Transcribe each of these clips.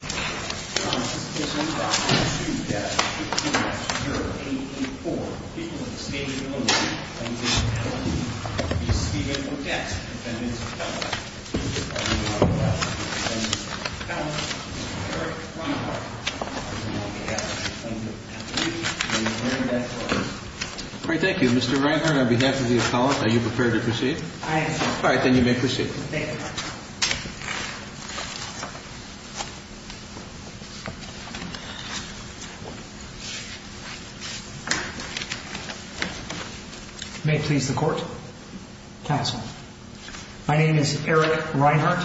on behalf of the appellate, are you prepared to proceed? I am, sir. All right, then you may proceed. Thank you, Your Honor. May it please the Court, Counsel. My name is Eric Reinhart.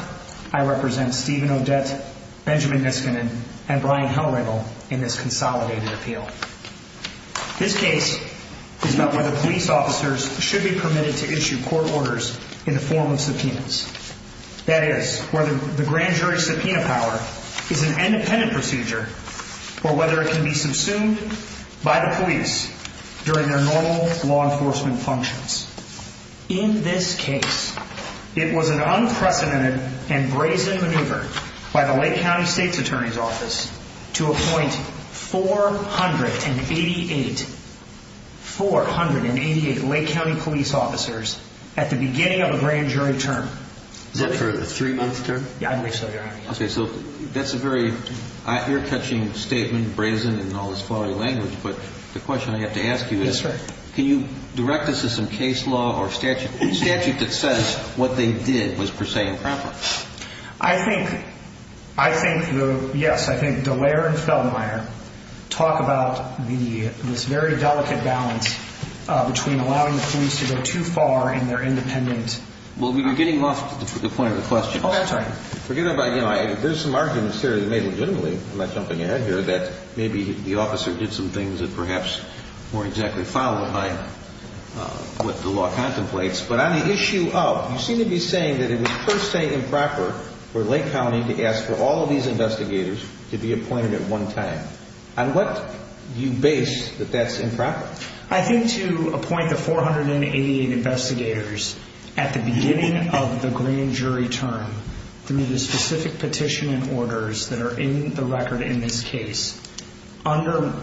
I represent Stephen Odette, Benjamin Niskanen, and Brian Hellringle in this consolidated appeal. This case is about whether police officers should be permitted to issue court orders in the form of subpoenas. That is, whether the grand jury subpoena power is an independent procedure or whether it can be subsumed by the police during their normal law enforcement functions. In this case, it was an unprecedented and brazen maneuver by the Lake County State's Attorney's Office to appoint 488 Lake County police officers at the beginning of a grand jury term. Is that for a three-month term? Yeah, I believe so, Your Honor. Okay, so that's a very ear-catching statement, brazen, and all this flawed language, but the question I have to ask you is, can you direct us to some case law or statute that says what they did was per se improper? I think, yes, I think Dallaire and Fellmeier talk about this very delicate balance between allowing the police to go too far and their independent... Well, we were getting off to the point of the question. Oh, that's right. There's some arguments here that may legitimately, I'm not jumping ahead here, that maybe the officer did some things that perhaps weren't exactly followed by what the law contemplates, but on the issue of, you seem to be saying that it was per se improper for Lake County to ask for all of these investigators to be appointed at one time. On what do you base that that's improper? I think to appoint the 488 investigators at the beginning of the grand jury term, through the specific petition and orders that are in the record in this case, under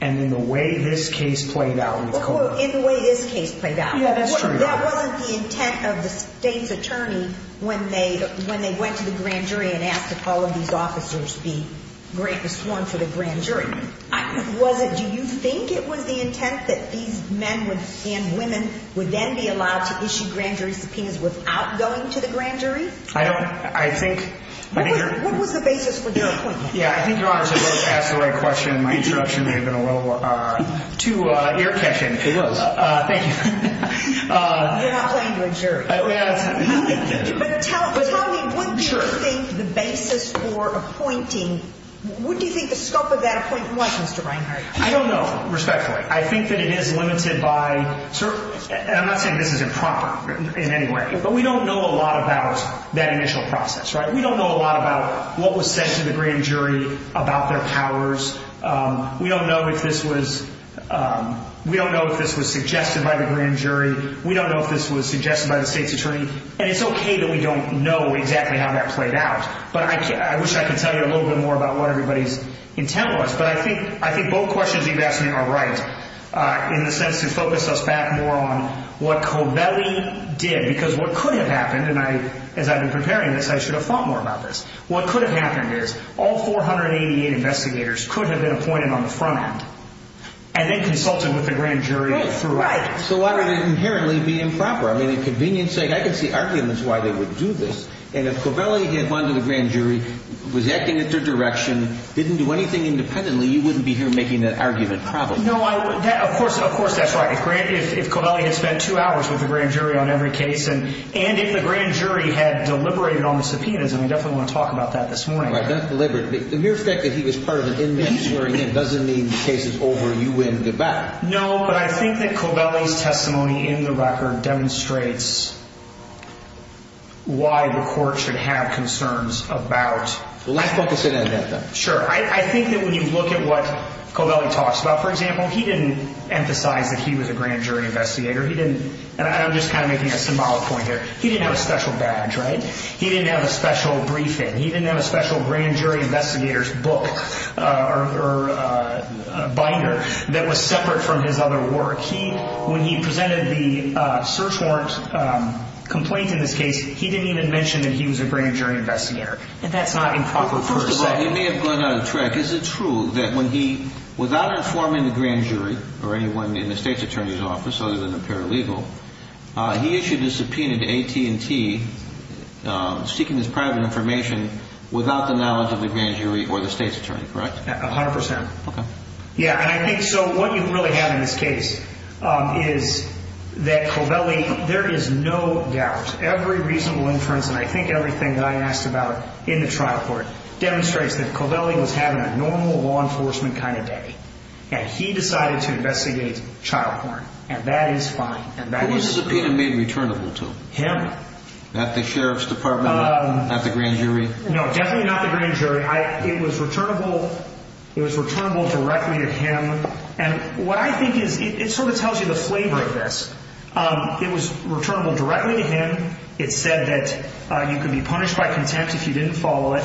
and in the way this case played out... Well, in the way this case played out. Yeah, that's true. That wasn't the intent of the state's attorney when they went to the grand jury and asked if all of these officers be sworn to the grand jury. Was it, do you think it was the intent that these men and women would then be allowed to issue grand jury subpoenas without going to the grand jury? I don't, I think... What was the basis for their appointment? Yeah, I think Your Honor should have asked the right question in my introduction. It would have been a little too ear catching. It was. Thank you. You're not playing to a jury. But tell me, what do you think the basis for appointing, what do you think the scope of that appointment was, Mr. Reinhart? I don't know, respectfully. I think that it is limited by, and I'm not saying this is improper in any way, but we don't know a lot about that initial process, right? We don't know a lot about what was said to the grand jury about their powers. We don't know if this was suggested by the grand jury. We don't know if this was suggested by the state's attorney. And it's okay that we don't know exactly how that played out. But I wish I could tell you a little bit more about what everybody's intent was. But I think both questions you've asked me are right. In the sense to focus us back more on what Covelli did. Because what could have happened, and as I've been preparing this, I should have thought more about this. What could have happened is all 488 investigators could have been appointed on the front end and then consulted with the grand jury. Right. So why would it inherently be improper? I mean, for convenience's sake, I can see arguments why they would do this. And if Covelli had gone to the grand jury, was acting at their direction, didn't do anything independently, you wouldn't be here making that argument, probably. No, of course, of course, that's right. If Covelli had spent two hours with the grand jury on every case, and if the grand jury had deliberated on the subpoenas, and we definitely want to talk about that this morning. No, but I think that Covelli's testimony in the record demonstrates why the court should have concerns about. Let's focus in on that, though. And that's not improper. First of all, you may have gone out of track. Is it true that when he, without informing the grand jury or anyone in the state's attorney's office, other than the paralegal, he issued a subpoena to AT&T seeking this private information without the knowledge of the grand jury? Without the knowledge of the grand jury or the state's attorney, correct? A hundred percent. Okay. Yeah, and I think, so what you really have in this case is that Covelli, there is no doubt, every reasonable inference, and I think everything that I asked about in the trial court, demonstrates that Covelli was having a normal law enforcement kind of day. And he decided to investigate child porn. And that is fine. Who was the subpoena made returnable to? Him. Not the sheriff's department? Not the grand jury? No, definitely not the grand jury. It was returnable directly to him. And what I think is, it sort of tells you the flavor of this. It was returnable directly to him. It said that you could be punished by contempt if you didn't follow it.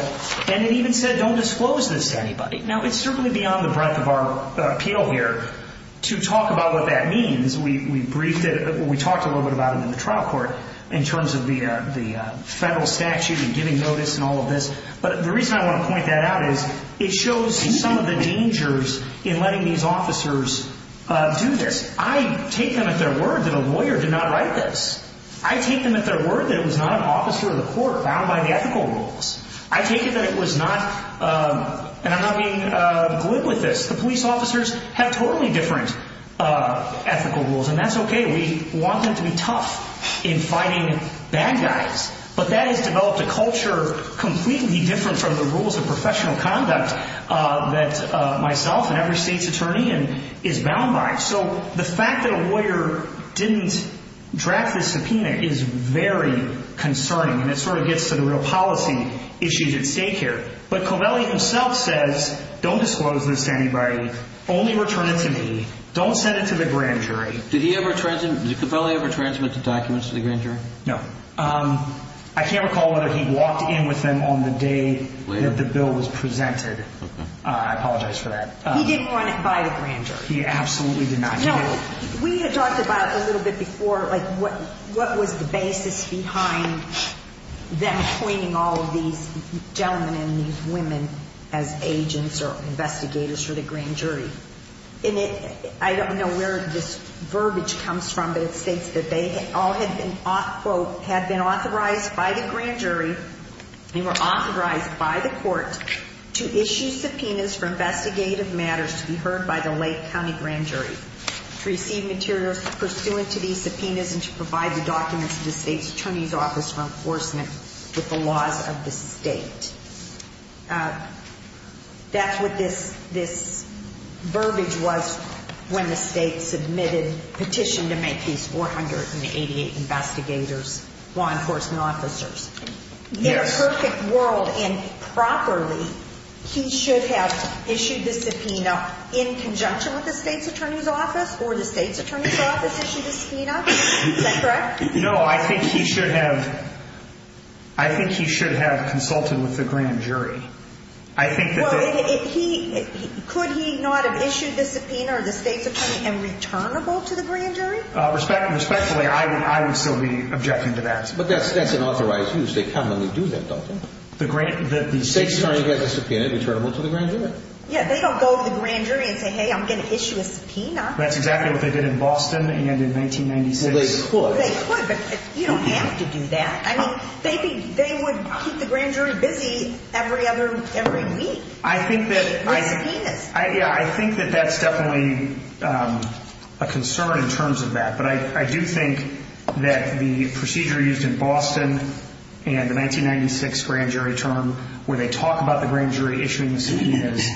And it even said don't disclose this to anybody. Now, it's certainly beyond the breadth of our appeal here to talk about what that means. We briefed it, we talked a little bit about it in the trial court in terms of the federal statute and giving notice and all of this. But the reason I want to point that out is it shows some of the dangers in letting these officers do this. I take them at their word that a lawyer did not write this. I take them at their word that it was not an officer of the court bound by the ethical rules. I take it that it was not, and I'm not being glib with this, the police officers have totally different ethical rules. And that's okay. We want them to be tough in fighting bad guys. But that has developed a culture completely different from the rules of professional conduct that myself and every state's attorney is bound by. So the fact that a lawyer didn't draft this subpoena is very concerning. And it sort of gets to the real policy issues at stake here. But Covelli himself says don't disclose this to anybody. Only return it to me. Don't send it to the grand jury. Did he ever transmit, did Covelli ever transmit the documents to the grand jury? No. I can't recall whether he walked in with them on the day that the bill was presented. I apologize for that. He didn't run it by the grand jury. He absolutely did not. No. We had talked about it a little bit before, like what was the basis behind them appointing all of these gentlemen and these women as agents or investigators for the grand jury. And it, I don't know where this verbiage comes from, but it states that they all had been, quote, had been authorized by the grand jury. They were authorized by the court to issue subpoenas for investigative matters to be heard by the Lake County grand jury. To receive materials pursuant to these subpoenas and to provide the documents to the state's attorney's office for enforcement with the laws of the state. That's what this verbiage was when the state submitted petition to make these 488 investigators law enforcement officers. Yes. In a perfect world and properly, he should have issued the subpoena in conjunction with the state's attorney's office or the state's attorney's office issued the subpoena. Is that correct? No, I think he should have. I think he should have consulted with the grand jury. I think. Well, he could he not have issued the subpoena or the state's attorney and returnable to the grand jury? Respectfully, I would still be objecting to that. But that's an authorized use. They commonly do that, don't they? The state's attorney gets a subpoena returnable to the grand jury. Yeah, they don't go to the grand jury and say, hey, I'm going to issue a subpoena. That's exactly what they did in Boston and in 1996. Well, they could. They could, but you don't have to do that. I mean, they would keep the grand jury busy every other every week. I think that I think that that's definitely a concern in terms of that. But I do think that the procedure used in Boston and the 1996 grand jury term where they talk about the grand jury issuing the subpoenas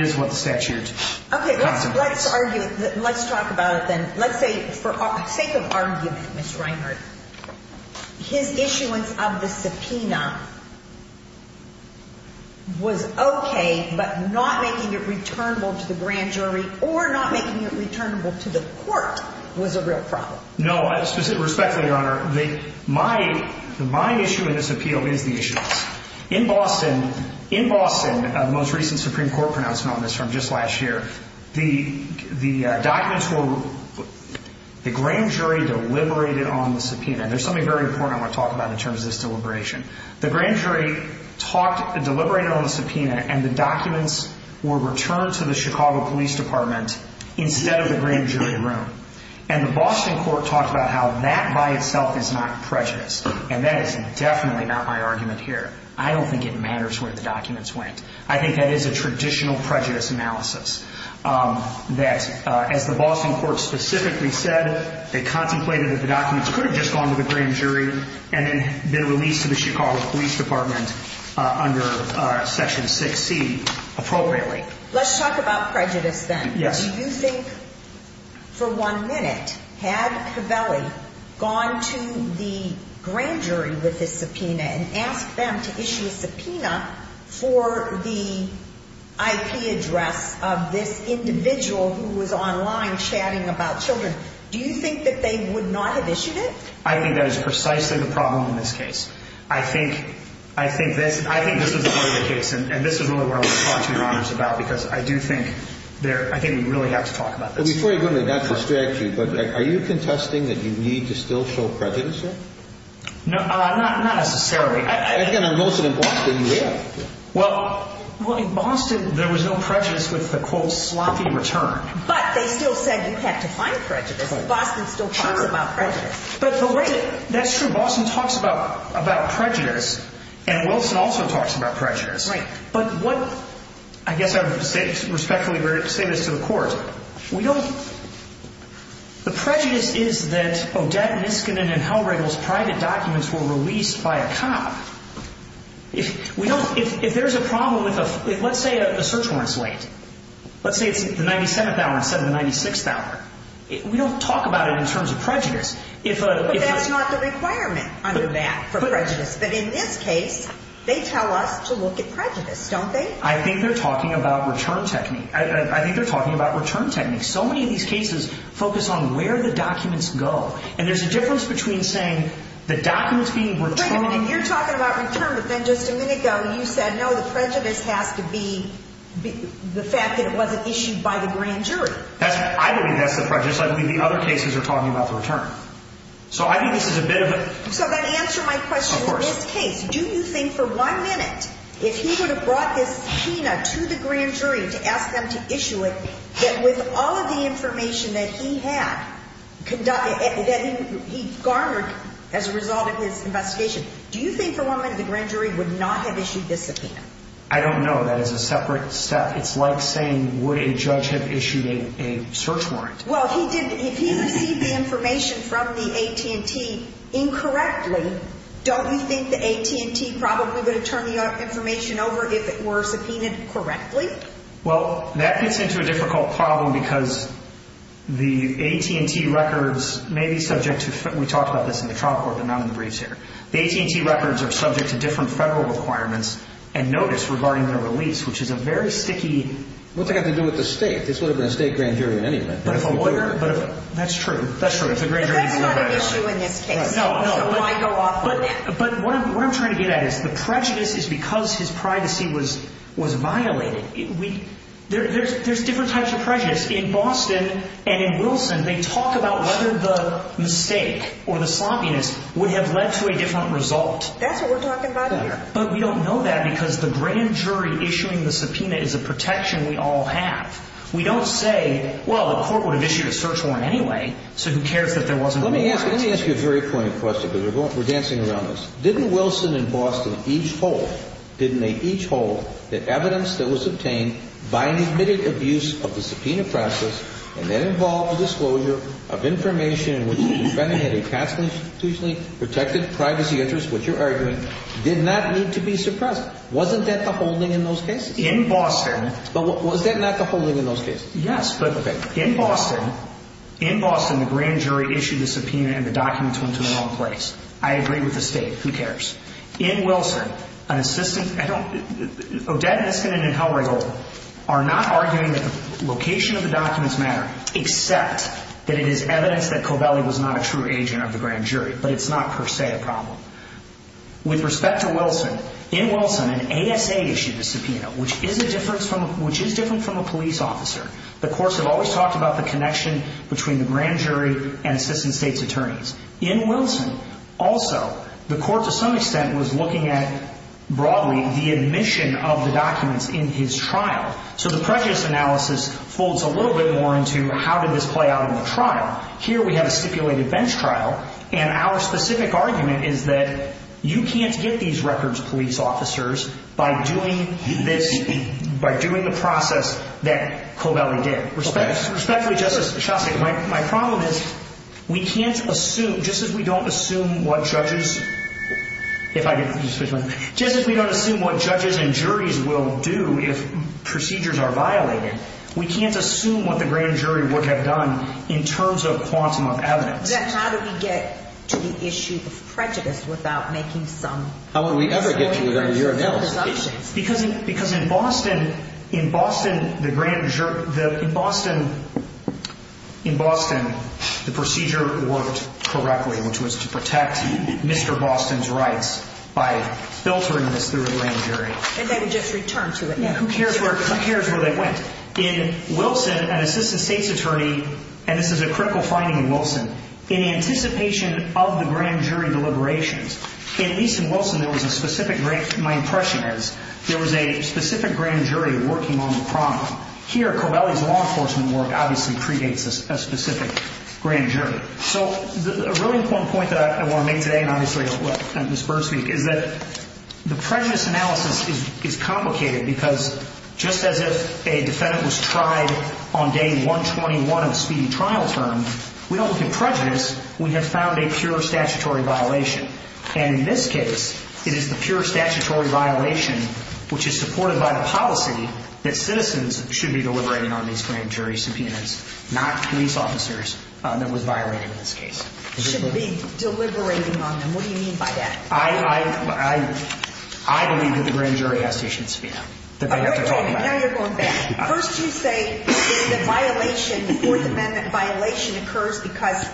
is what the statute. OK, let's let's argue that. Let's talk about it then. Let's say for sake of argument, Mr. Reinhardt, his issuance of the subpoena. Was OK, but not making it returnable to the grand jury or not making it returnable to the court was a real problem. My issue in this appeal is the issue in Boston, in Boston, most recent Supreme Court pronouncement on this from just last year. The the documents were the grand jury deliberated on the subpoena. There's something very important I want to talk about in terms of this deliberation. The grand jury talked, deliberated on the subpoena and the documents were returned to the Chicago Police Department instead of the grand jury room. And the Boston court talked about how that by itself is not prejudice. And that is definitely not my argument here. I don't think it matters where the documents went. I think that is a traditional prejudice analysis that, as the Boston court specifically said, they contemplated that the documents could have just gone to the grand jury and then been released to the Chicago Police Department under Section 6C appropriately. Let's talk about prejudice then. Yes. Do you think for one minute had Covelli gone to the grand jury with his subpoena and asked them to issue a subpoena for the IP address of this individual who was online chatting about children? Do you think that they would not have issued it? I think that is precisely the problem in this case. I think this is the part of the case, and this is really what I want to talk to your honors about, because I do think we really have to talk about this. Before you go into that, that frustrates you, but are you contesting that you need to still show prejudice here? Not necessarily. Again, on most of them, Boston, you have. Well, in Boston, there was no prejudice with the, quote, sloppy return. But they still said you have to find prejudice. Boston still talks about prejudice. That's true. Boston talks about prejudice, and Wilson also talks about prejudice. Right. But what – I guess I would respectfully say this to the court. We don't – the prejudice is that Odette Niskanen and Hal Regal's private documents were released by a cop. If there's a problem with a – let's say a search warrant is late. Let's say it's the 97th hour instead of the 96th hour. We don't talk about it in terms of prejudice. But that's not the requirement under that for prejudice. But in this case, they tell us to look at prejudice, don't they? I think they're talking about return technique. I think they're talking about return technique. So many of these cases focus on where the documents go, and there's a difference between saying the documents being returned. Wait a minute. You're talking about return, but then just a minute ago you said, no, the prejudice has to be the fact that it wasn't issued by the grand jury. That's – I believe that's the prejudice. I believe the other cases are talking about the return. So I think this is a bit of a – So that answers my question. Of course. In this case, do you think for one minute, if he would have brought this subpoena to the grand jury to ask them to issue it, that with all of the information that he had – that he garnered as a result of his investigation, do you think for one minute the grand jury would not have issued this subpoena? I don't know. That is a separate step. It's like saying, would a judge have issued a search warrant? Well, if he received the information from the AT&T incorrectly, don't you think the AT&T probably would have turned the information over if it were subpoenaed correctly? Well, that gets into a difficult problem because the AT&T records may be subject to – we talked about this in the trial court, but not in the briefs here. The AT&T records are subject to different federal requirements and notice regarding their release, which is a very sticky – What's it got to do with the state? This would have been a state grand jury in any event. But if a lawyer – that's true. That's true. If the grand jury – But that's not an issue in this case. No, no. So why go off on it? But what I'm trying to get at is the prejudice is because his privacy was violated. There's different types of prejudice. In Boston and in Wilson, they talk about whether the mistake or the sloppiness would have led to a different result. That's what we're talking about here. But we don't know that because the grand jury issuing the subpoena is a protection we all have. We don't say, well, the court would have issued a search warrant anyway, so who cares that there wasn't a warrant? Let me ask you a very poignant question because we're dancing around this. Didn't Wilson and Boston each hold – didn't they each hold that evidence that was obtained by an admitted abuse of the subpoena process and that involved the disclosure of information in which the defendant had a constitutionally protected privacy interest, which you're arguing, did not need to be suppressed? Wasn't that the holding in those cases? In Boston – But was that not the holding in those cases? Yes, but in Boston, in Boston, the grand jury issued the subpoena and the documents went to the wrong place. I agree with the State. Who cares? In Wilson, an assistant – Odette Niskanen and Hal Riggle are not arguing that the location of the documents matter except that it is evidence that Covelli was not a true agent of the grand jury, but it's not per se a problem. With respect to Wilson, in Wilson, an ASA issued a subpoena, which is a difference from – which is different from a police officer. The courts have always talked about the connection between the grand jury and assistant State's attorneys. In Wilson, also, the court to some extent was looking at, broadly, the admission of the documents in his trial. So the prejudice analysis folds a little bit more into how did this play out in the trial. Here we have a stipulated bench trial, and our specific argument is that you can't get these records, police officers, by doing this – by doing the process that Covelli did. Respectfully, Justice Shostak, my problem is we can't assume – just as we don't assume what judges – we can't assume what the grand jury would have done in terms of quantum of evidence. Then how do we get to the issue of prejudice without making some – How would we ever get to it under your analysis? Because in Boston, the procedure worked correctly, which was to protect Mr. Boston's rights by filtering this through the grand jury. And they would just return to it. Who cares where they went? In Wilson, an assistant State's attorney – and this is a critical finding in Wilson – in anticipation of the grand jury deliberations, at least in Wilson, there was a specific – my impression is there was a specific grand jury working on the problem. Here, Covelli's law enforcement work obviously predates a specific grand jury. So a really important point that I want to make today, and obviously let Ms. Berg speak, is that the prejudice analysis is complicated because just as if a defendant was tried on day 121 of a speedy trial term, we don't look at prejudice. We have found a pure statutory violation. And in this case, it is the pure statutory violation, which is supported by the policy, that citizens should be deliberating on these grand jury subpoenas, not police officers, that was violated in this case. Should be deliberating on them. What do you mean by that? I believe that the grand jury has to issue a subpoena. Now you're going back. First you say the violation, the Fourth Amendment violation, occurs because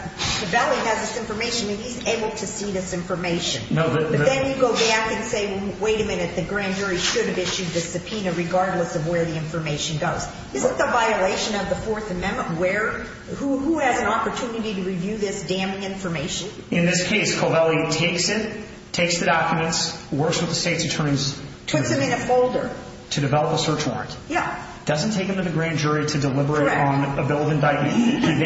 Covelli has this information and he's able to see this information. Then you go back and say, wait a minute, the grand jury should have issued the subpoena regardless of where the information goes. Isn't the violation of the Fourth Amendment where who has an opportunity to review this damn information? In this case, Covelli takes it, takes the documents, works with the state's attorneys. Puts them in a folder. To develop a search warrant. Yeah. Doesn't take them to the grand jury to deliberate on a bill of indictment. Correct.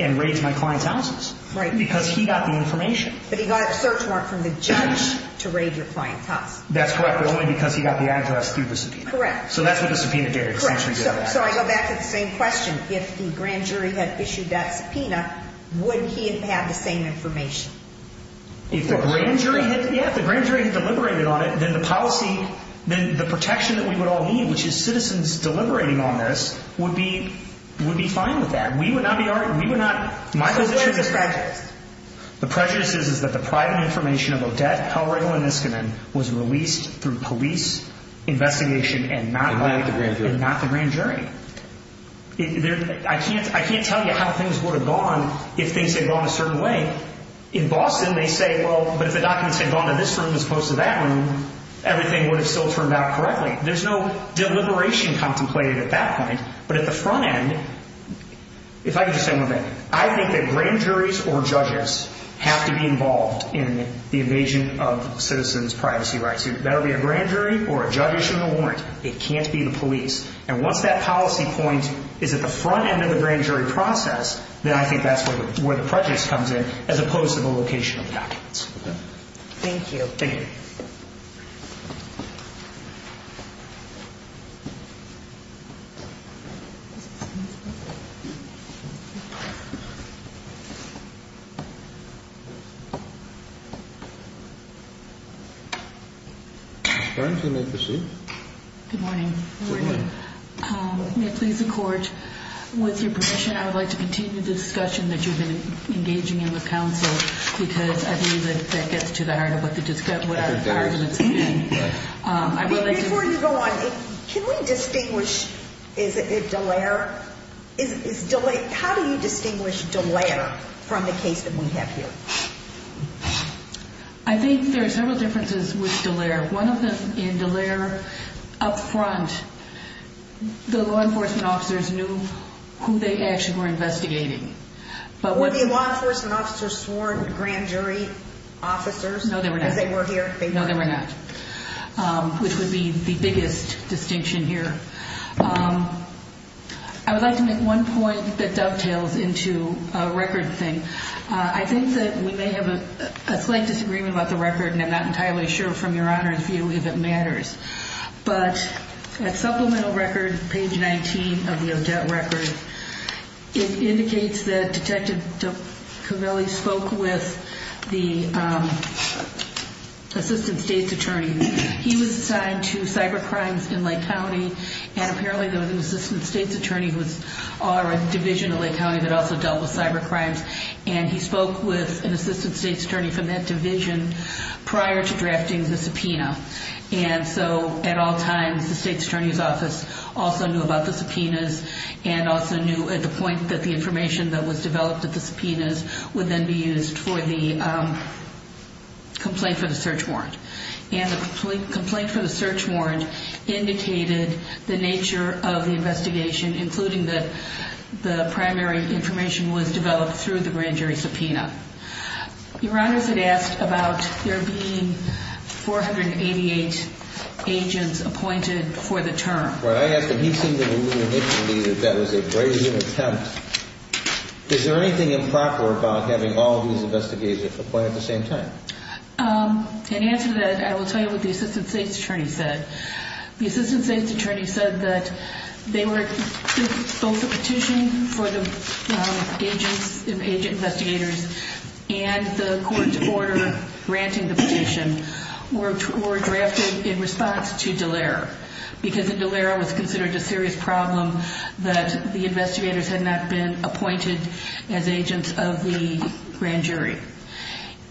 And raids my client's houses. Right. Because he got the information. But he got a search warrant from the judge to raid your client's house. That's correct, but only because he got the address through the subpoena. Correct. So that's what the subpoena did. Correct. So I go back to the same question. If the grand jury had issued that subpoena, would he have had the same information? If the grand jury had, yeah, if the grand jury had deliberated on it, then the policy, then the protection that we would all need, which is citizens deliberating on this, would be fine with that. We would not be arguing. My position is that the private information of Odette, Helrigel, and Niskanen was released through police investigation and not the grand jury. I can't tell you how things would have gone if things had gone a certain way. In Boston, they say, well, but if the documents had gone to this room as opposed to that room, everything would have still turned out correctly. There's no deliberation contemplated at that point. But at the front end, if I could just say one thing, I think that grand juries or judges have to be involved in the invasion of citizens' privacy rights. It better be a grand jury or a judge issuing a warrant. It can't be the police. And once that policy point is at the front end of the grand jury process, then I think that's where the prejudice comes in as opposed to the location of the documents. Thank you. Thank you. Thank you. Thank you. Good morning. Morning. May it please the court, with your permission, I would like to continue the discussion that you have been engaging in with counsel, because I believe that that gets to the heart of what our arguments have been. Before you go on, can we distinguish, is it Dallaire? How do you distinguish Dallaire from the case that we have here? I think there are several differences with Dallaire. One of them, in Dallaire, up front, the law enforcement officers knew who they actually were investigating. Were the law enforcement officers sworn grand jury officers? No, they were not. Because they were here? No, they were not, which would be the biggest distinction here. I would like to make one point that dovetails into a record thing. I think that we may have a slight disagreement about the record, and I'm not entirely sure from Your Honor's view if it matters. But at supplemental record, page 19 of the Odette record, it indicates that Detective Covelli spoke with the assistant state's attorney. He was assigned to cyber crimes in Lake County, and apparently there was an assistant state's attorney who was on a division in Lake County that also dealt with cyber crimes. And he spoke with an assistant state's attorney from that division prior to drafting the subpoena. And so at all times, the state's attorney's office also knew about the subpoenas and also knew at the point that the information that was developed at the subpoenas would then be used for the complaint for the search warrant. And the complaint for the search warrant indicated the nature of the investigation, including that the primary information was developed through the grand jury subpoena. Your Honor's had asked about there being 488 agents appointed for the term. Well, I asked, and he seemed to believe initially that that was a brazen attempt. Is there anything improper about having all of these investigators appointed at the same time? In answer to that, I will tell you what the assistant state's attorney said. The assistant state's attorney said that both the petition for the agent investigators and the court's order granting the petition were drafted in response to Dallara. Because in Dallara it was considered a serious problem that the investigators had not been appointed as agents of the grand jury.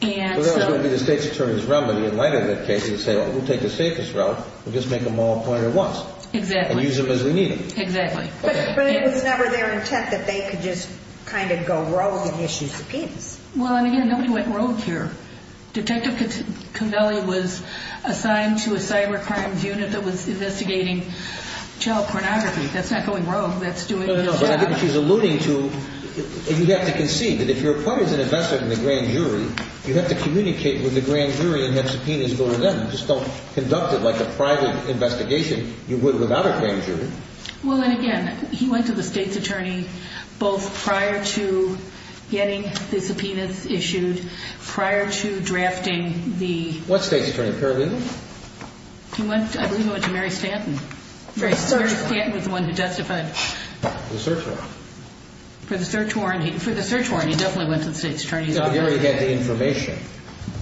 Well, that would be the state's attorney's realm, but in light of that case, he would say, well, we'll take the safest route. We'll just make them all appointed at once. Exactly. And use them as we need them. Exactly. But it was never their intent that they could just kind of go rogue and issue subpoenas. Well, and again, nobody went rogue here. Detective Connelly was assigned to a cyber crimes unit that was investigating child pornography. That's not going rogue. That's doing its job. She's alluding to you have to concede that if you're appointed as an investigator in the grand jury, you have to communicate with the grand jury and have subpoenas go to them. You just don't conduct it like a private investigation. You would without a grand jury. Well, and again, he went to the state's attorney both prior to getting the subpoenas issued, prior to drafting the... What state's attorney? Paralegal? He went, I believe he went to Mary Stanton. Mary Stanton was the one who justified. The search warrant. For the search warrant, he definitely went to the state's attorney. No, he already had the information.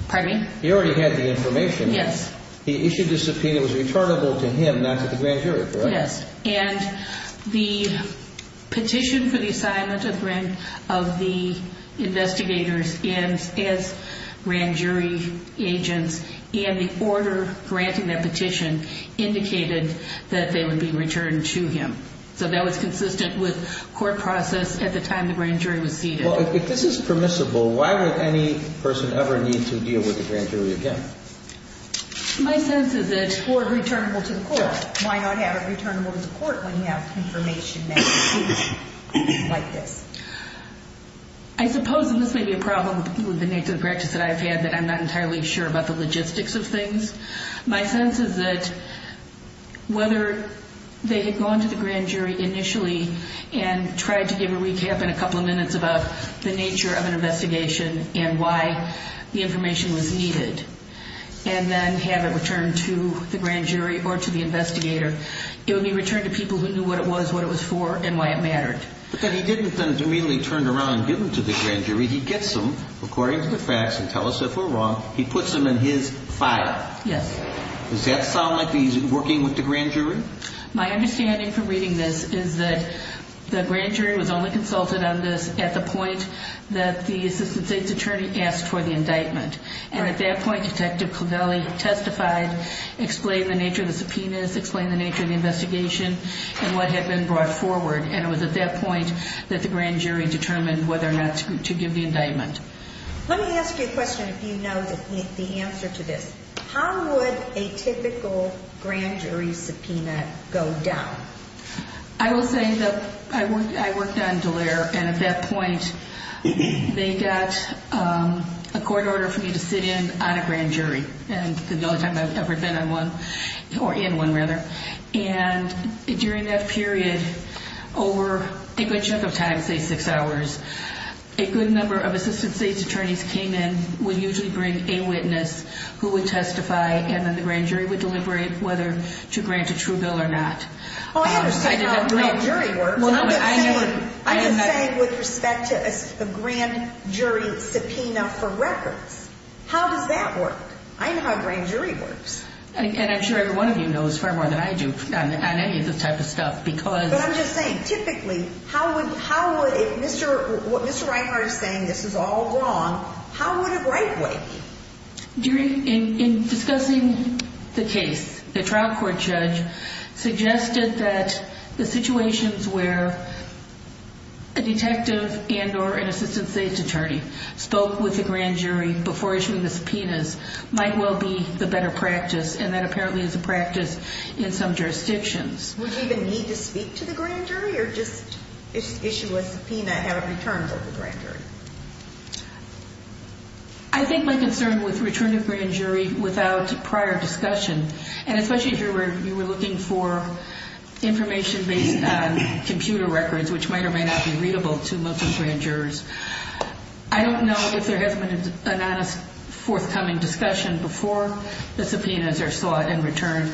Pardon me? He already had the information. Yes. He issued a subpoena that was returnable to him, not to the grand jury, correct? Yes. And the petition for the assignment of the investigators as grand jury agents and the order granting that petition indicated that they would be returned to him. So that was consistent with court process at the time the grand jury was seated. Well, if this is permissible, why would any person ever need to deal with the grand jury again? My sense is that... Or returnable to the court. Why not have it returnable to the court when you have confirmation that it's seated like this? I suppose, and this may be a problem with the nature of the practice that I've had, that I'm not entirely sure about the logistics of things. My sense is that whether they had gone to the grand jury initially and tried to give a recap in a couple of minutes about the nature of an investigation and why the information was needed, and then have it returned to the grand jury or to the investigator, it would be returned to people who knew what it was, what it was for, and why it mattered. But then he didn't then immediately turn around and give them to the grand jury. He gets them, according to the facts, and tell us if we're wrong. He puts them in his file. Yes. Does that sound like he's working with the grand jury? My understanding from reading this is that the grand jury was only consulted on this at the point that the assistant state's attorney asked for the indictment. And at that point, Detective Covelli testified, explained the nature of the subpoenas, explained the nature of the investigation and what had been brought forward. And it was at that point that the grand jury determined whether or not to give the indictment. Let me ask you a question, if you know the answer to this. How would a typical grand jury subpoena go down? I will say that I worked on Dallaire, and at that point, they got a court order for me to sit in on a grand jury. And the only time I've ever been in one. And during that period, over a good chunk of time, say six hours, a good number of assistant state's attorneys came in, would usually bring a witness who would testify. And then the grand jury would deliberate whether to grant a true bill or not. Oh, I understand how a grand jury works. I'm just saying with respect to a grand jury subpoena for records, how does that work? I know how a grand jury works. And I'm sure every one of you knows far more than I do on any of this type of stuff. But I'm just saying, typically, if Mr. Reinhart is saying this is all wrong, how would it rightfully be? In discussing the case, the trial court judge suggested that the situations where a detective and or an assistant state's attorney spoke with the grand jury before issuing the subpoenas might well be the better practice. And that apparently is a practice in some jurisdictions. Would you even need to speak to the grand jury or just issue a subpoena and have it returned to the grand jury? I think my concern with returning a grand jury without prior discussion, and especially if you were looking for information based on computer records, which might or may not be readable to most of the grand jurors, I don't know if there has been an honest, forthcoming discussion before the subpoenas are sought and returned,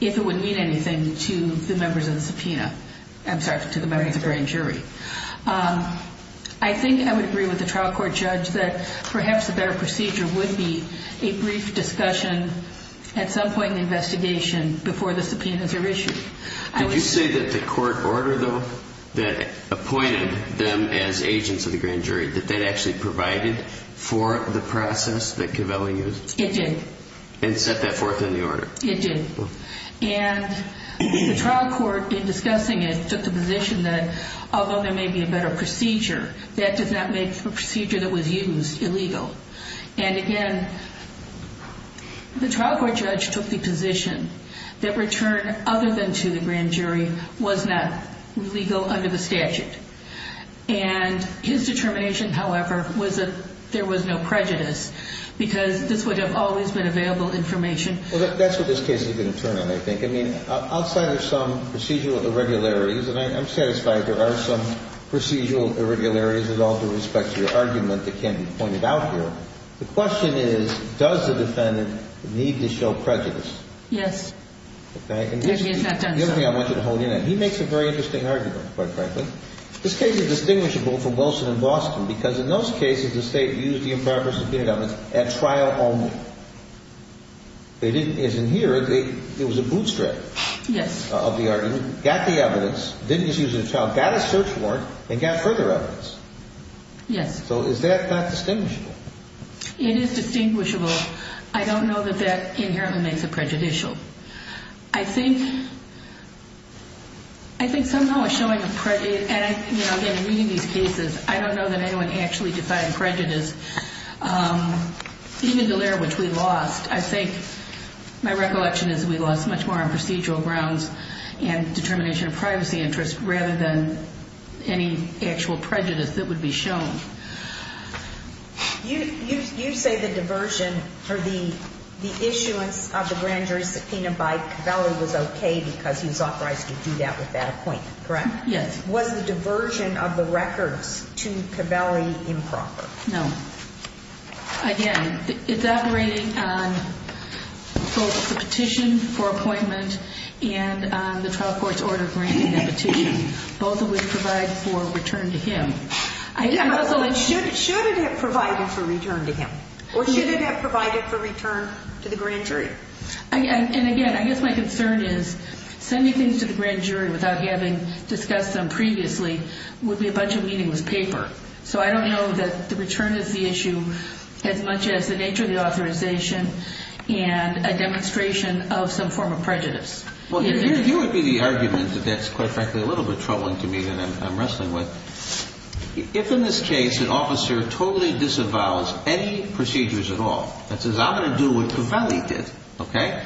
if it would mean anything to the members of the grand jury. I think I would agree with the trial court judge that perhaps a better procedure would be a brief discussion at some point in the investigation before the subpoenas are issued. Did you say that the court order, though, that appointed them as agents of the grand jury, that that actually provided for the process that Covelli used? It did. And set that forth in the order? It did. And the trial court, in discussing it, took the position that although there may be a better procedure, that does not make the procedure that was used illegal. And again, the trial court judge took the position that return other than to the grand jury was not legal under the statute. And his determination, however, was that there was no prejudice because this would have always been available information. Well, that's what this case is going to turn in, I think. I mean, outside of some procedural irregularities, and I'm satisfied there are some procedural irregularities with all due respect to your argument that can be pointed out here. The question is, does the defendant need to show prejudice? Yes. Okay. And here's the other thing I want you to hold in. He makes a very interesting argument, quite frankly. This case is distinguishable from Wilson and Boston because in those cases the State used the improper subpoenaed evidence at trial only. They didn't, as in here, it was a bootstrap. Yes. Of the argument, got the evidence, didn't use it at trial, got a search warrant, and got further evidence. Yes. So is that not distinguishable? It is distinguishable. I don't know that that inherently makes it prejudicial. I think somehow it's showing prejudice. And, you know, again, in reading these cases, I don't know that anyone actually decided prejudice, even the layer which we lost. I think my recollection is we lost much more on procedural grounds and determination of privacy interest rather than any actual prejudice that would be shown. You say the diversion or the issuance of the grand jury subpoena by Covelli was okay because he was authorized to do that with that appointment, correct? Yes. Was the diversion of the records to Covelli improper? No. Again, it's operating on both the petition for appointment and the trial court's order granting that petition. Both of which provide for return to him. Should it have provided for return to him? Or should it have provided for return to the grand jury? And, again, I guess my concern is sending things to the grand jury without having discussed them previously would be a bunch of meaningless paper. So I don't know that the return is the issue as much as the nature of the authorization and a demonstration of some form of prejudice. Well, here would be the argument that that's, quite frankly, a little bit troubling to me that I'm wrestling with. If, in this case, an officer totally disavows any procedures at all and says, I'm going to do what Covelli did, okay,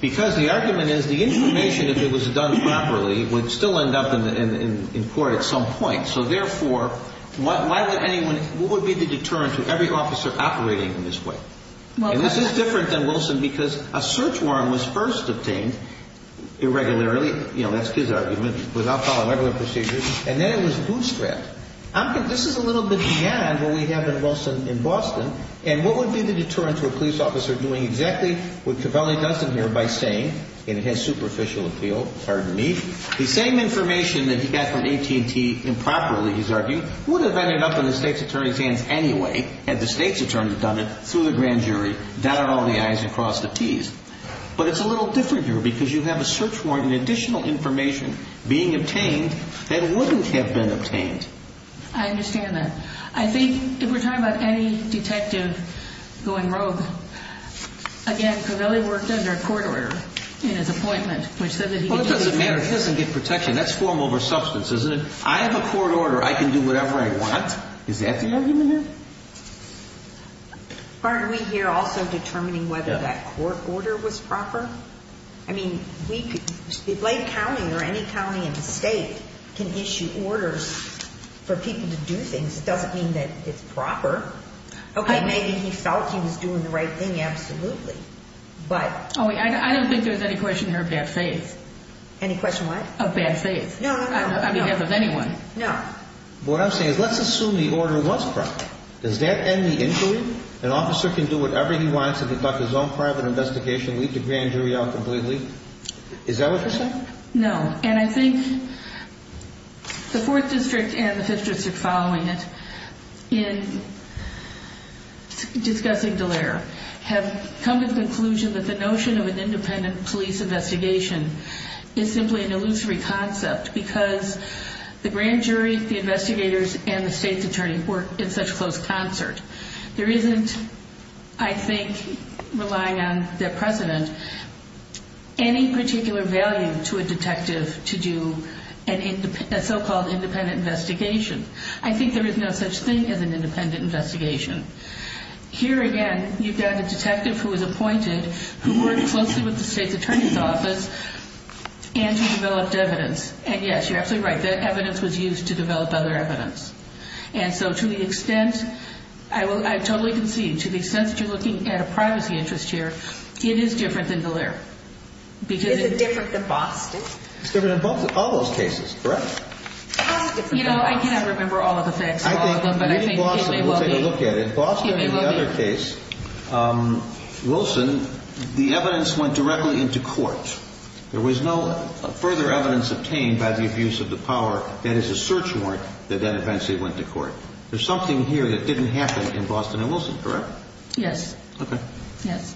because the argument is the information, if it was done properly, would still end up in court at some point. So, therefore, what would be the deterrent to every officer operating in this way? And this is different than Wilson because a search warrant was first obtained irregularly. You know, that's his argument, without following regular procedures. And then it was bootstrapped. This is a little bit beyond what we have in Wilson in Boston. And what would be the deterrent to a police officer doing exactly what Covelli does in here by saying, in his superficial appeal, pardon me, the same information that he got from AT&T improperly, he's arguing, would have ended up in the state's attorney's hands anyway had the state's attorney done it through the grand jury. Downed all the I's and crossed the T's. But it's a little different here because you have a search warrant and additional information being obtained that wouldn't have been obtained. I understand that. I think if we're talking about any detective going rogue, again, Covelli worked under a court order in his appointment which said that he could do whatever he wanted. Well, it doesn't matter. He doesn't get protection. That's form over substance, isn't it? I have a court order. I can do whatever I want. Is that the argument here? Aren't we here also determining whether that court order was proper? I mean, Blake County or any county in the state can issue orders for people to do things. It doesn't mean that it's proper. Okay. Maybe he felt he was doing the right thing. Absolutely. But I don't think there's any question here of bad faith. Any question what? Of bad faith. No. Because of anyone. No. What I'm saying is let's assume the order was proper. Does that end the inquiry? An officer can do whatever he wants, conduct his own private investigation, leave the grand jury out completely? Is that what you're saying? No. And I think the Fourth District and the Fifth District following it in discussing Dallaire have come to the conclusion that the notion of an independent police investigation is simply an illusory concept because the grand jury, the investigators, and the state's attorney work in such close concert. There isn't, I think, relying on their precedent, any particular value to a detective to do a so-called independent investigation. I think there is no such thing as an independent investigation. Here, again, you've got a detective who is appointed, who worked closely with the state's attorney's office, and who developed evidence. And, yes, you're absolutely right. That evidence was used to develop other evidence. And so to the extent, I totally concede, to the extent that you're looking at a privacy interest here, it is different than Dallaire. Is it different than Boston? It's different than Boston. All those cases. Correct? How is it different than Boston? You know, I cannot remember all of the facts, all of them, but I think it may well be. We'll take a look at it. Boston and the other case, Wilson, the evidence went directly into court. There was no further evidence obtained by the abuse of the power, that is, a search warrant, that then eventually went to court. There's something here that didn't happen in Boston and Wilson, correct? Yes. Okay. Yes.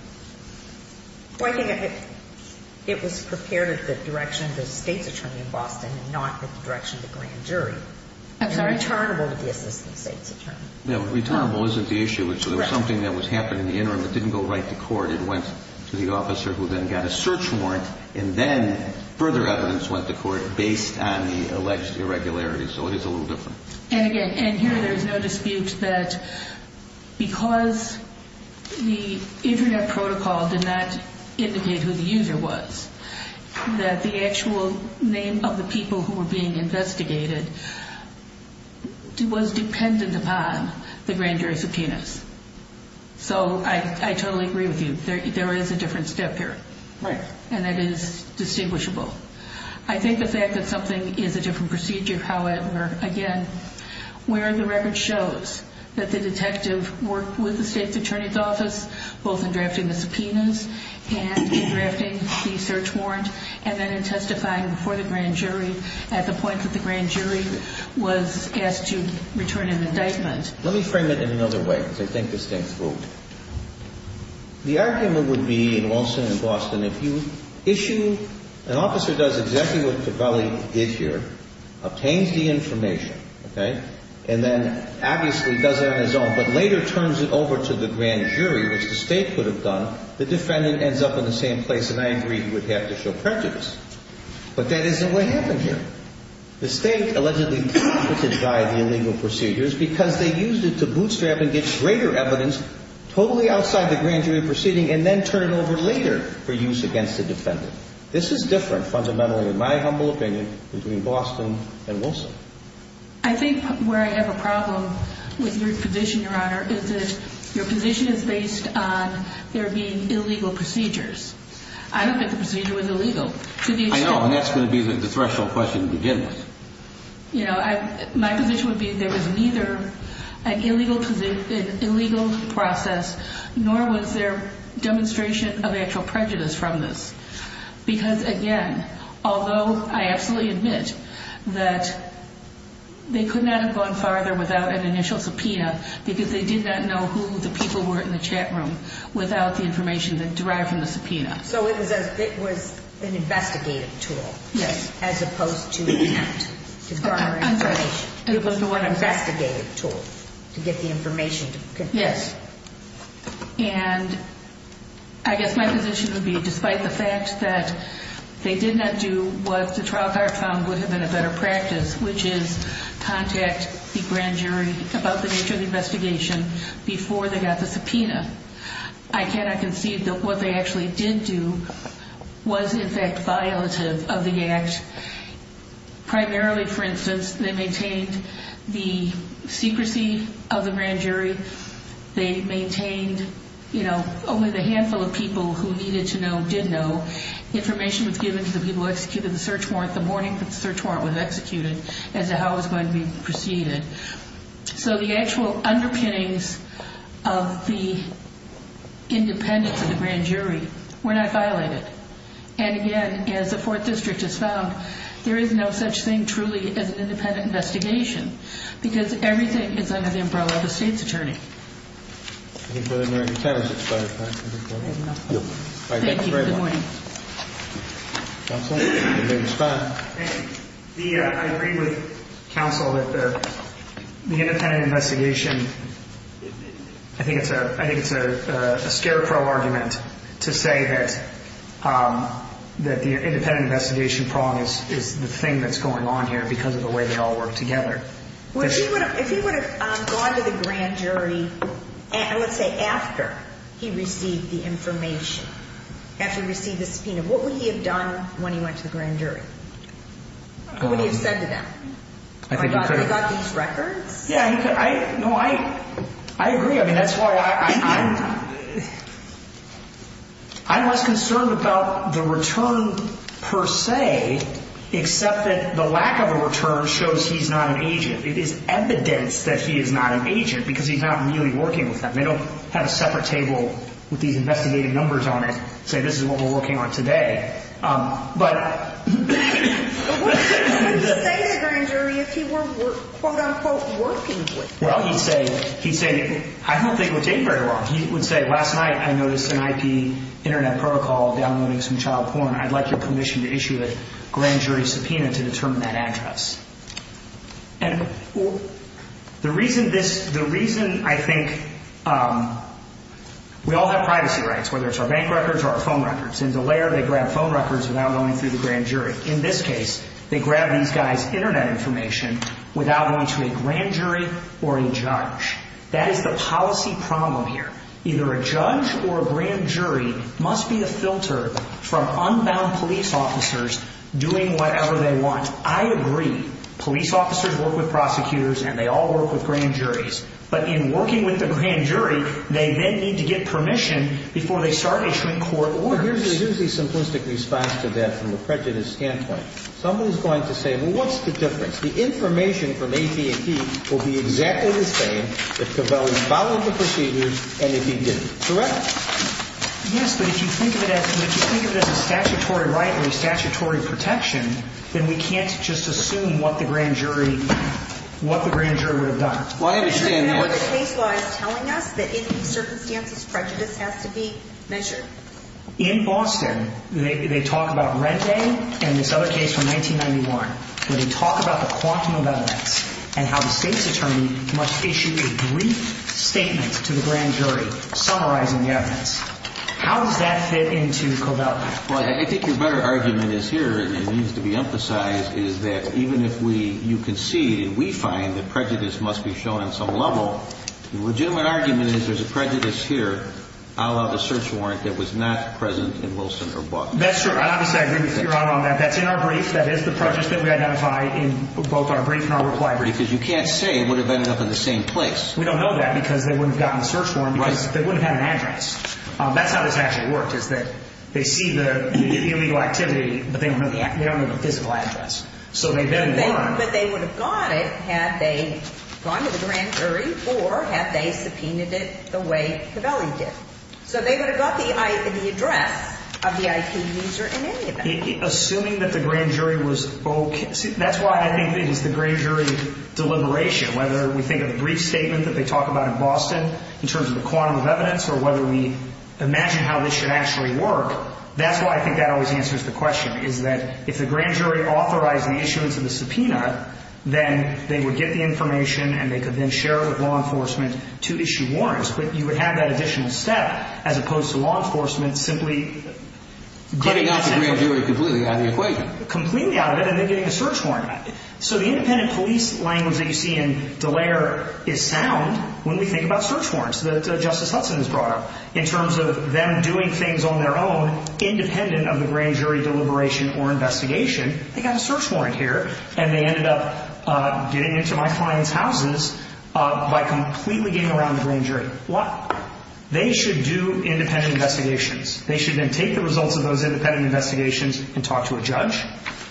Well, I think it was prepared at the direction of the state's attorney in Boston and not at the direction of the grand jury. I'm sorry? And returnable to the assistant state's attorney. No, returnable isn't the issue. Correct. It was something that was happening in the interim. It didn't go right to court. It went to the officer who then got a search warrant, and then further evidence went to court based on the alleged irregularities. So it is a little different. And again, and here there's no dispute that because the internet protocol did not indicate who the user was, that the actual name of the people who were being investigated was dependent upon the grand jury subpoenas. So I totally agree with you. There is a different step here. Right. And that is distinguishable. I think the fact that something is a different procedure, however, again, where the record shows that the detective worked with the state's attorney's office, both in drafting the subpoenas and in drafting the search warrant, and then in testifying before the grand jury at the point that the grand jury was asked to return an indictment. Let me frame it in another way, because I think the state's vote. The argument would be in Wilson and Boston, if you issue an officer does exactly what Tavelli did here, obtains the information, okay, and then obviously does it on his own, but later turns it over to the grand jury, which the state could have done, the defendant ends up in the same place, and I agree he would have to show prejudice. But that isn't what happened here. The state allegedly competed by the illegal procedures because they used it to bootstrap and get greater evidence totally outside the grand jury proceeding and then turn it over later for use against the defendant. This is different fundamentally, in my humble opinion, between Boston and Wilson. I think where I have a problem with your position, Your Honor, is that your position is based on there being illegal procedures. I don't think the procedure was illegal. I know, and that's going to be the threshold question to begin with. My position would be there was neither an illegal process nor was there demonstration of actual prejudice from this. Because, again, although I absolutely admit that they could not have gone farther without an initial subpoena because they did not know who the people were in the chat room without the information derived from the subpoena. So it was an investigative tool as opposed to an act to garner information. It was an investigative tool to get the information. Yes. And I guess my position would be despite the fact that they did not do what the trial court found would have been a better practice, which is contact the grand jury about the nature of the investigation before they got the subpoena, I cannot concede that what they actually did do was in fact violative of the act. Primarily, for instance, they maintained the secrecy of the grand jury. They maintained, you know, only the handful of people who needed to know did know. Information was given to the people who executed the search warrant the morning that the search warrant was executed as to how it was going to be proceeded. So the actual underpinnings of the independence of the grand jury were not violated. And again, as the Fourth District has found, there is no such thing truly as an independent investigation because everything is under the umbrella of a state's attorney. Thank you very much. Counsel, your name is fine. I agree with counsel that the independent investigation, I think it's a scarecrow argument to say that the independent investigation problem is the thing that's going on here because of the way they all work together. If he would have gone to the grand jury, let's say after he received the information, after he received the subpoena, what would he have done when he went to the grand jury? What would he have said to them? I think he could have. He got these records? Yeah, he could. No, I agree. I mean, that's why I'm less concerned about the return per se, except that the lack of a return shows he's not an agent. It is evidence that he is not an agent because he's not really working with them. They don't have a separate table with these investigative numbers on it and say this is what we're working on today. But what would he say to the grand jury if he were, quote, unquote, working with them? Well, he'd say, I don't think it would take very long. He would say, last night I noticed an IP internet protocol downloading some child porn. I'd like your permission to issue a grand jury subpoena to determine that address. And the reason I think we all have privacy rights, whether it's our bank records or our phone records, in Dallaire they grab phone records without going through the grand jury. In this case, they grab these guys' internet information without going to a grand jury or a judge. That is the policy problem here. Either a judge or a grand jury must be a filter from unbound police officers doing whatever they want. I agree. Police officers work with prosecutors and they all work with grand juries. But in working with a grand jury, they then need to get permission before they start issuing court orders. Here's a simplistic response to that from a prejudice standpoint. Somebody's going to say, well, what's the difference? The information from AP&T will be exactly the same if Covelli followed the procedures and if he didn't. Correct? Yes, but if you think of it as a statutory right or a statutory protection, then we can't just assume what the grand jury would have done. I understand that. Remember the case law is telling us that in these circumstances prejudice has to be measured. In Boston, they talk about Rente and this other case from 1991, where they talk about the quantum of evidence and how the state's attorney must issue a brief statement to the grand jury summarizing the evidence. How does that fit into Covelli? Well, I think your better argument is here, and it needs to be emphasized, is that even if you concede and we find that prejudice must be shown on some level, the legitimate argument is there's a prejudice here, a la the search warrant that was not present in Wilson or Boston. That's true. Obviously, I agree with you on that. That's in our brief. That is the prejudice that we identify in both our brief and our reply brief. Because you can't say it would have ended up in the same place. We don't know that because they wouldn't have gotten the search warrant because they wouldn't have had an address. That's how this actually worked, is that they see the illegal activity, but they don't have a physical address. But they would have got it had they gone to the grand jury or had they subpoenaed it the way Covelli did. So they would have got the address of the IP user in any event. Assuming that the grand jury was okay. That's why I think it is the grand jury deliberation, whether we think of the brief statement that they talk about in Boston in terms of the quantum of evidence or whether we imagine how this should actually work. That's why I think that always answers the question, is that if the grand jury authorized the issuance of the subpoena, then they would get the information and they could then share it with law enforcement to issue warrants. But you would have that additional step as opposed to law enforcement simply getting this information. Cutting out the grand jury completely out of the equation. Completely out of it and then getting a search warrant. So the independent police language that you see in Dallaire is sound when we think about search warrants that Justice Hudson has brought up. In terms of them doing things on their own, independent of the grand jury deliberation or investigation, they got a search warrant here and they ended up getting into my client's houses by completely getting around the grand jury. They should do independent investigations. They should then take the results of those independent investigations and talk to a judge.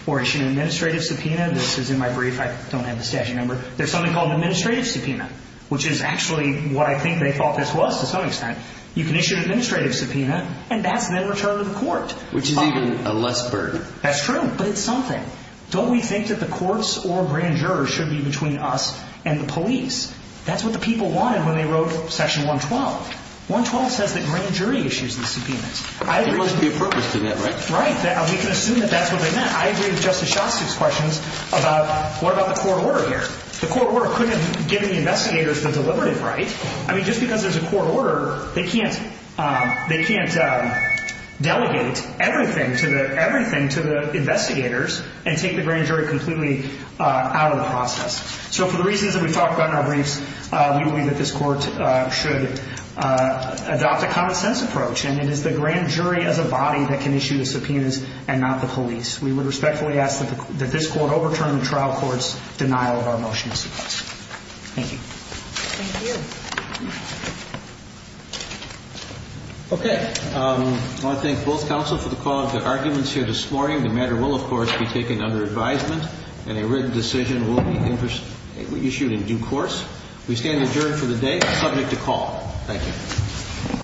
Or issue an administrative subpoena. This is in my brief. I don't have the statute number. There's something called an administrative subpoena, which is actually what I think they thought this was to some extent. You can issue an administrative subpoena and that's then returned to the court. Which is even a less burden. That's true, but it's something. Don't we think that the courts or grand jurors should be between us and the police? That's what the people wanted when they wrote Section 112. 112 says that grand jury issues the subpoenas. There must be a purpose to that, right? Right. We can assume that that's what they meant. I agree with Justice Shostak's questions about what about the court order here? The court order couldn't have given the investigators the deliberative right. I mean, just because there's a court order, they can't delegate everything to the investigators and take the grand jury completely out of the process. So for the reasons that we talked about in our briefs, we believe that this court should adopt a common sense approach. And it is the grand jury as a body that can issue the subpoenas and not the police. We would respectfully ask that this court overturn the trial court's denial of our motion to subpoena. Thank you. Thank you. Okay. I want to thank both counsel for the call of the arguments here this morning. The matter will, of course, be taken under advisement and a written decision will be issued in due course. We stand adjourned for the day, subject to call. Thank you.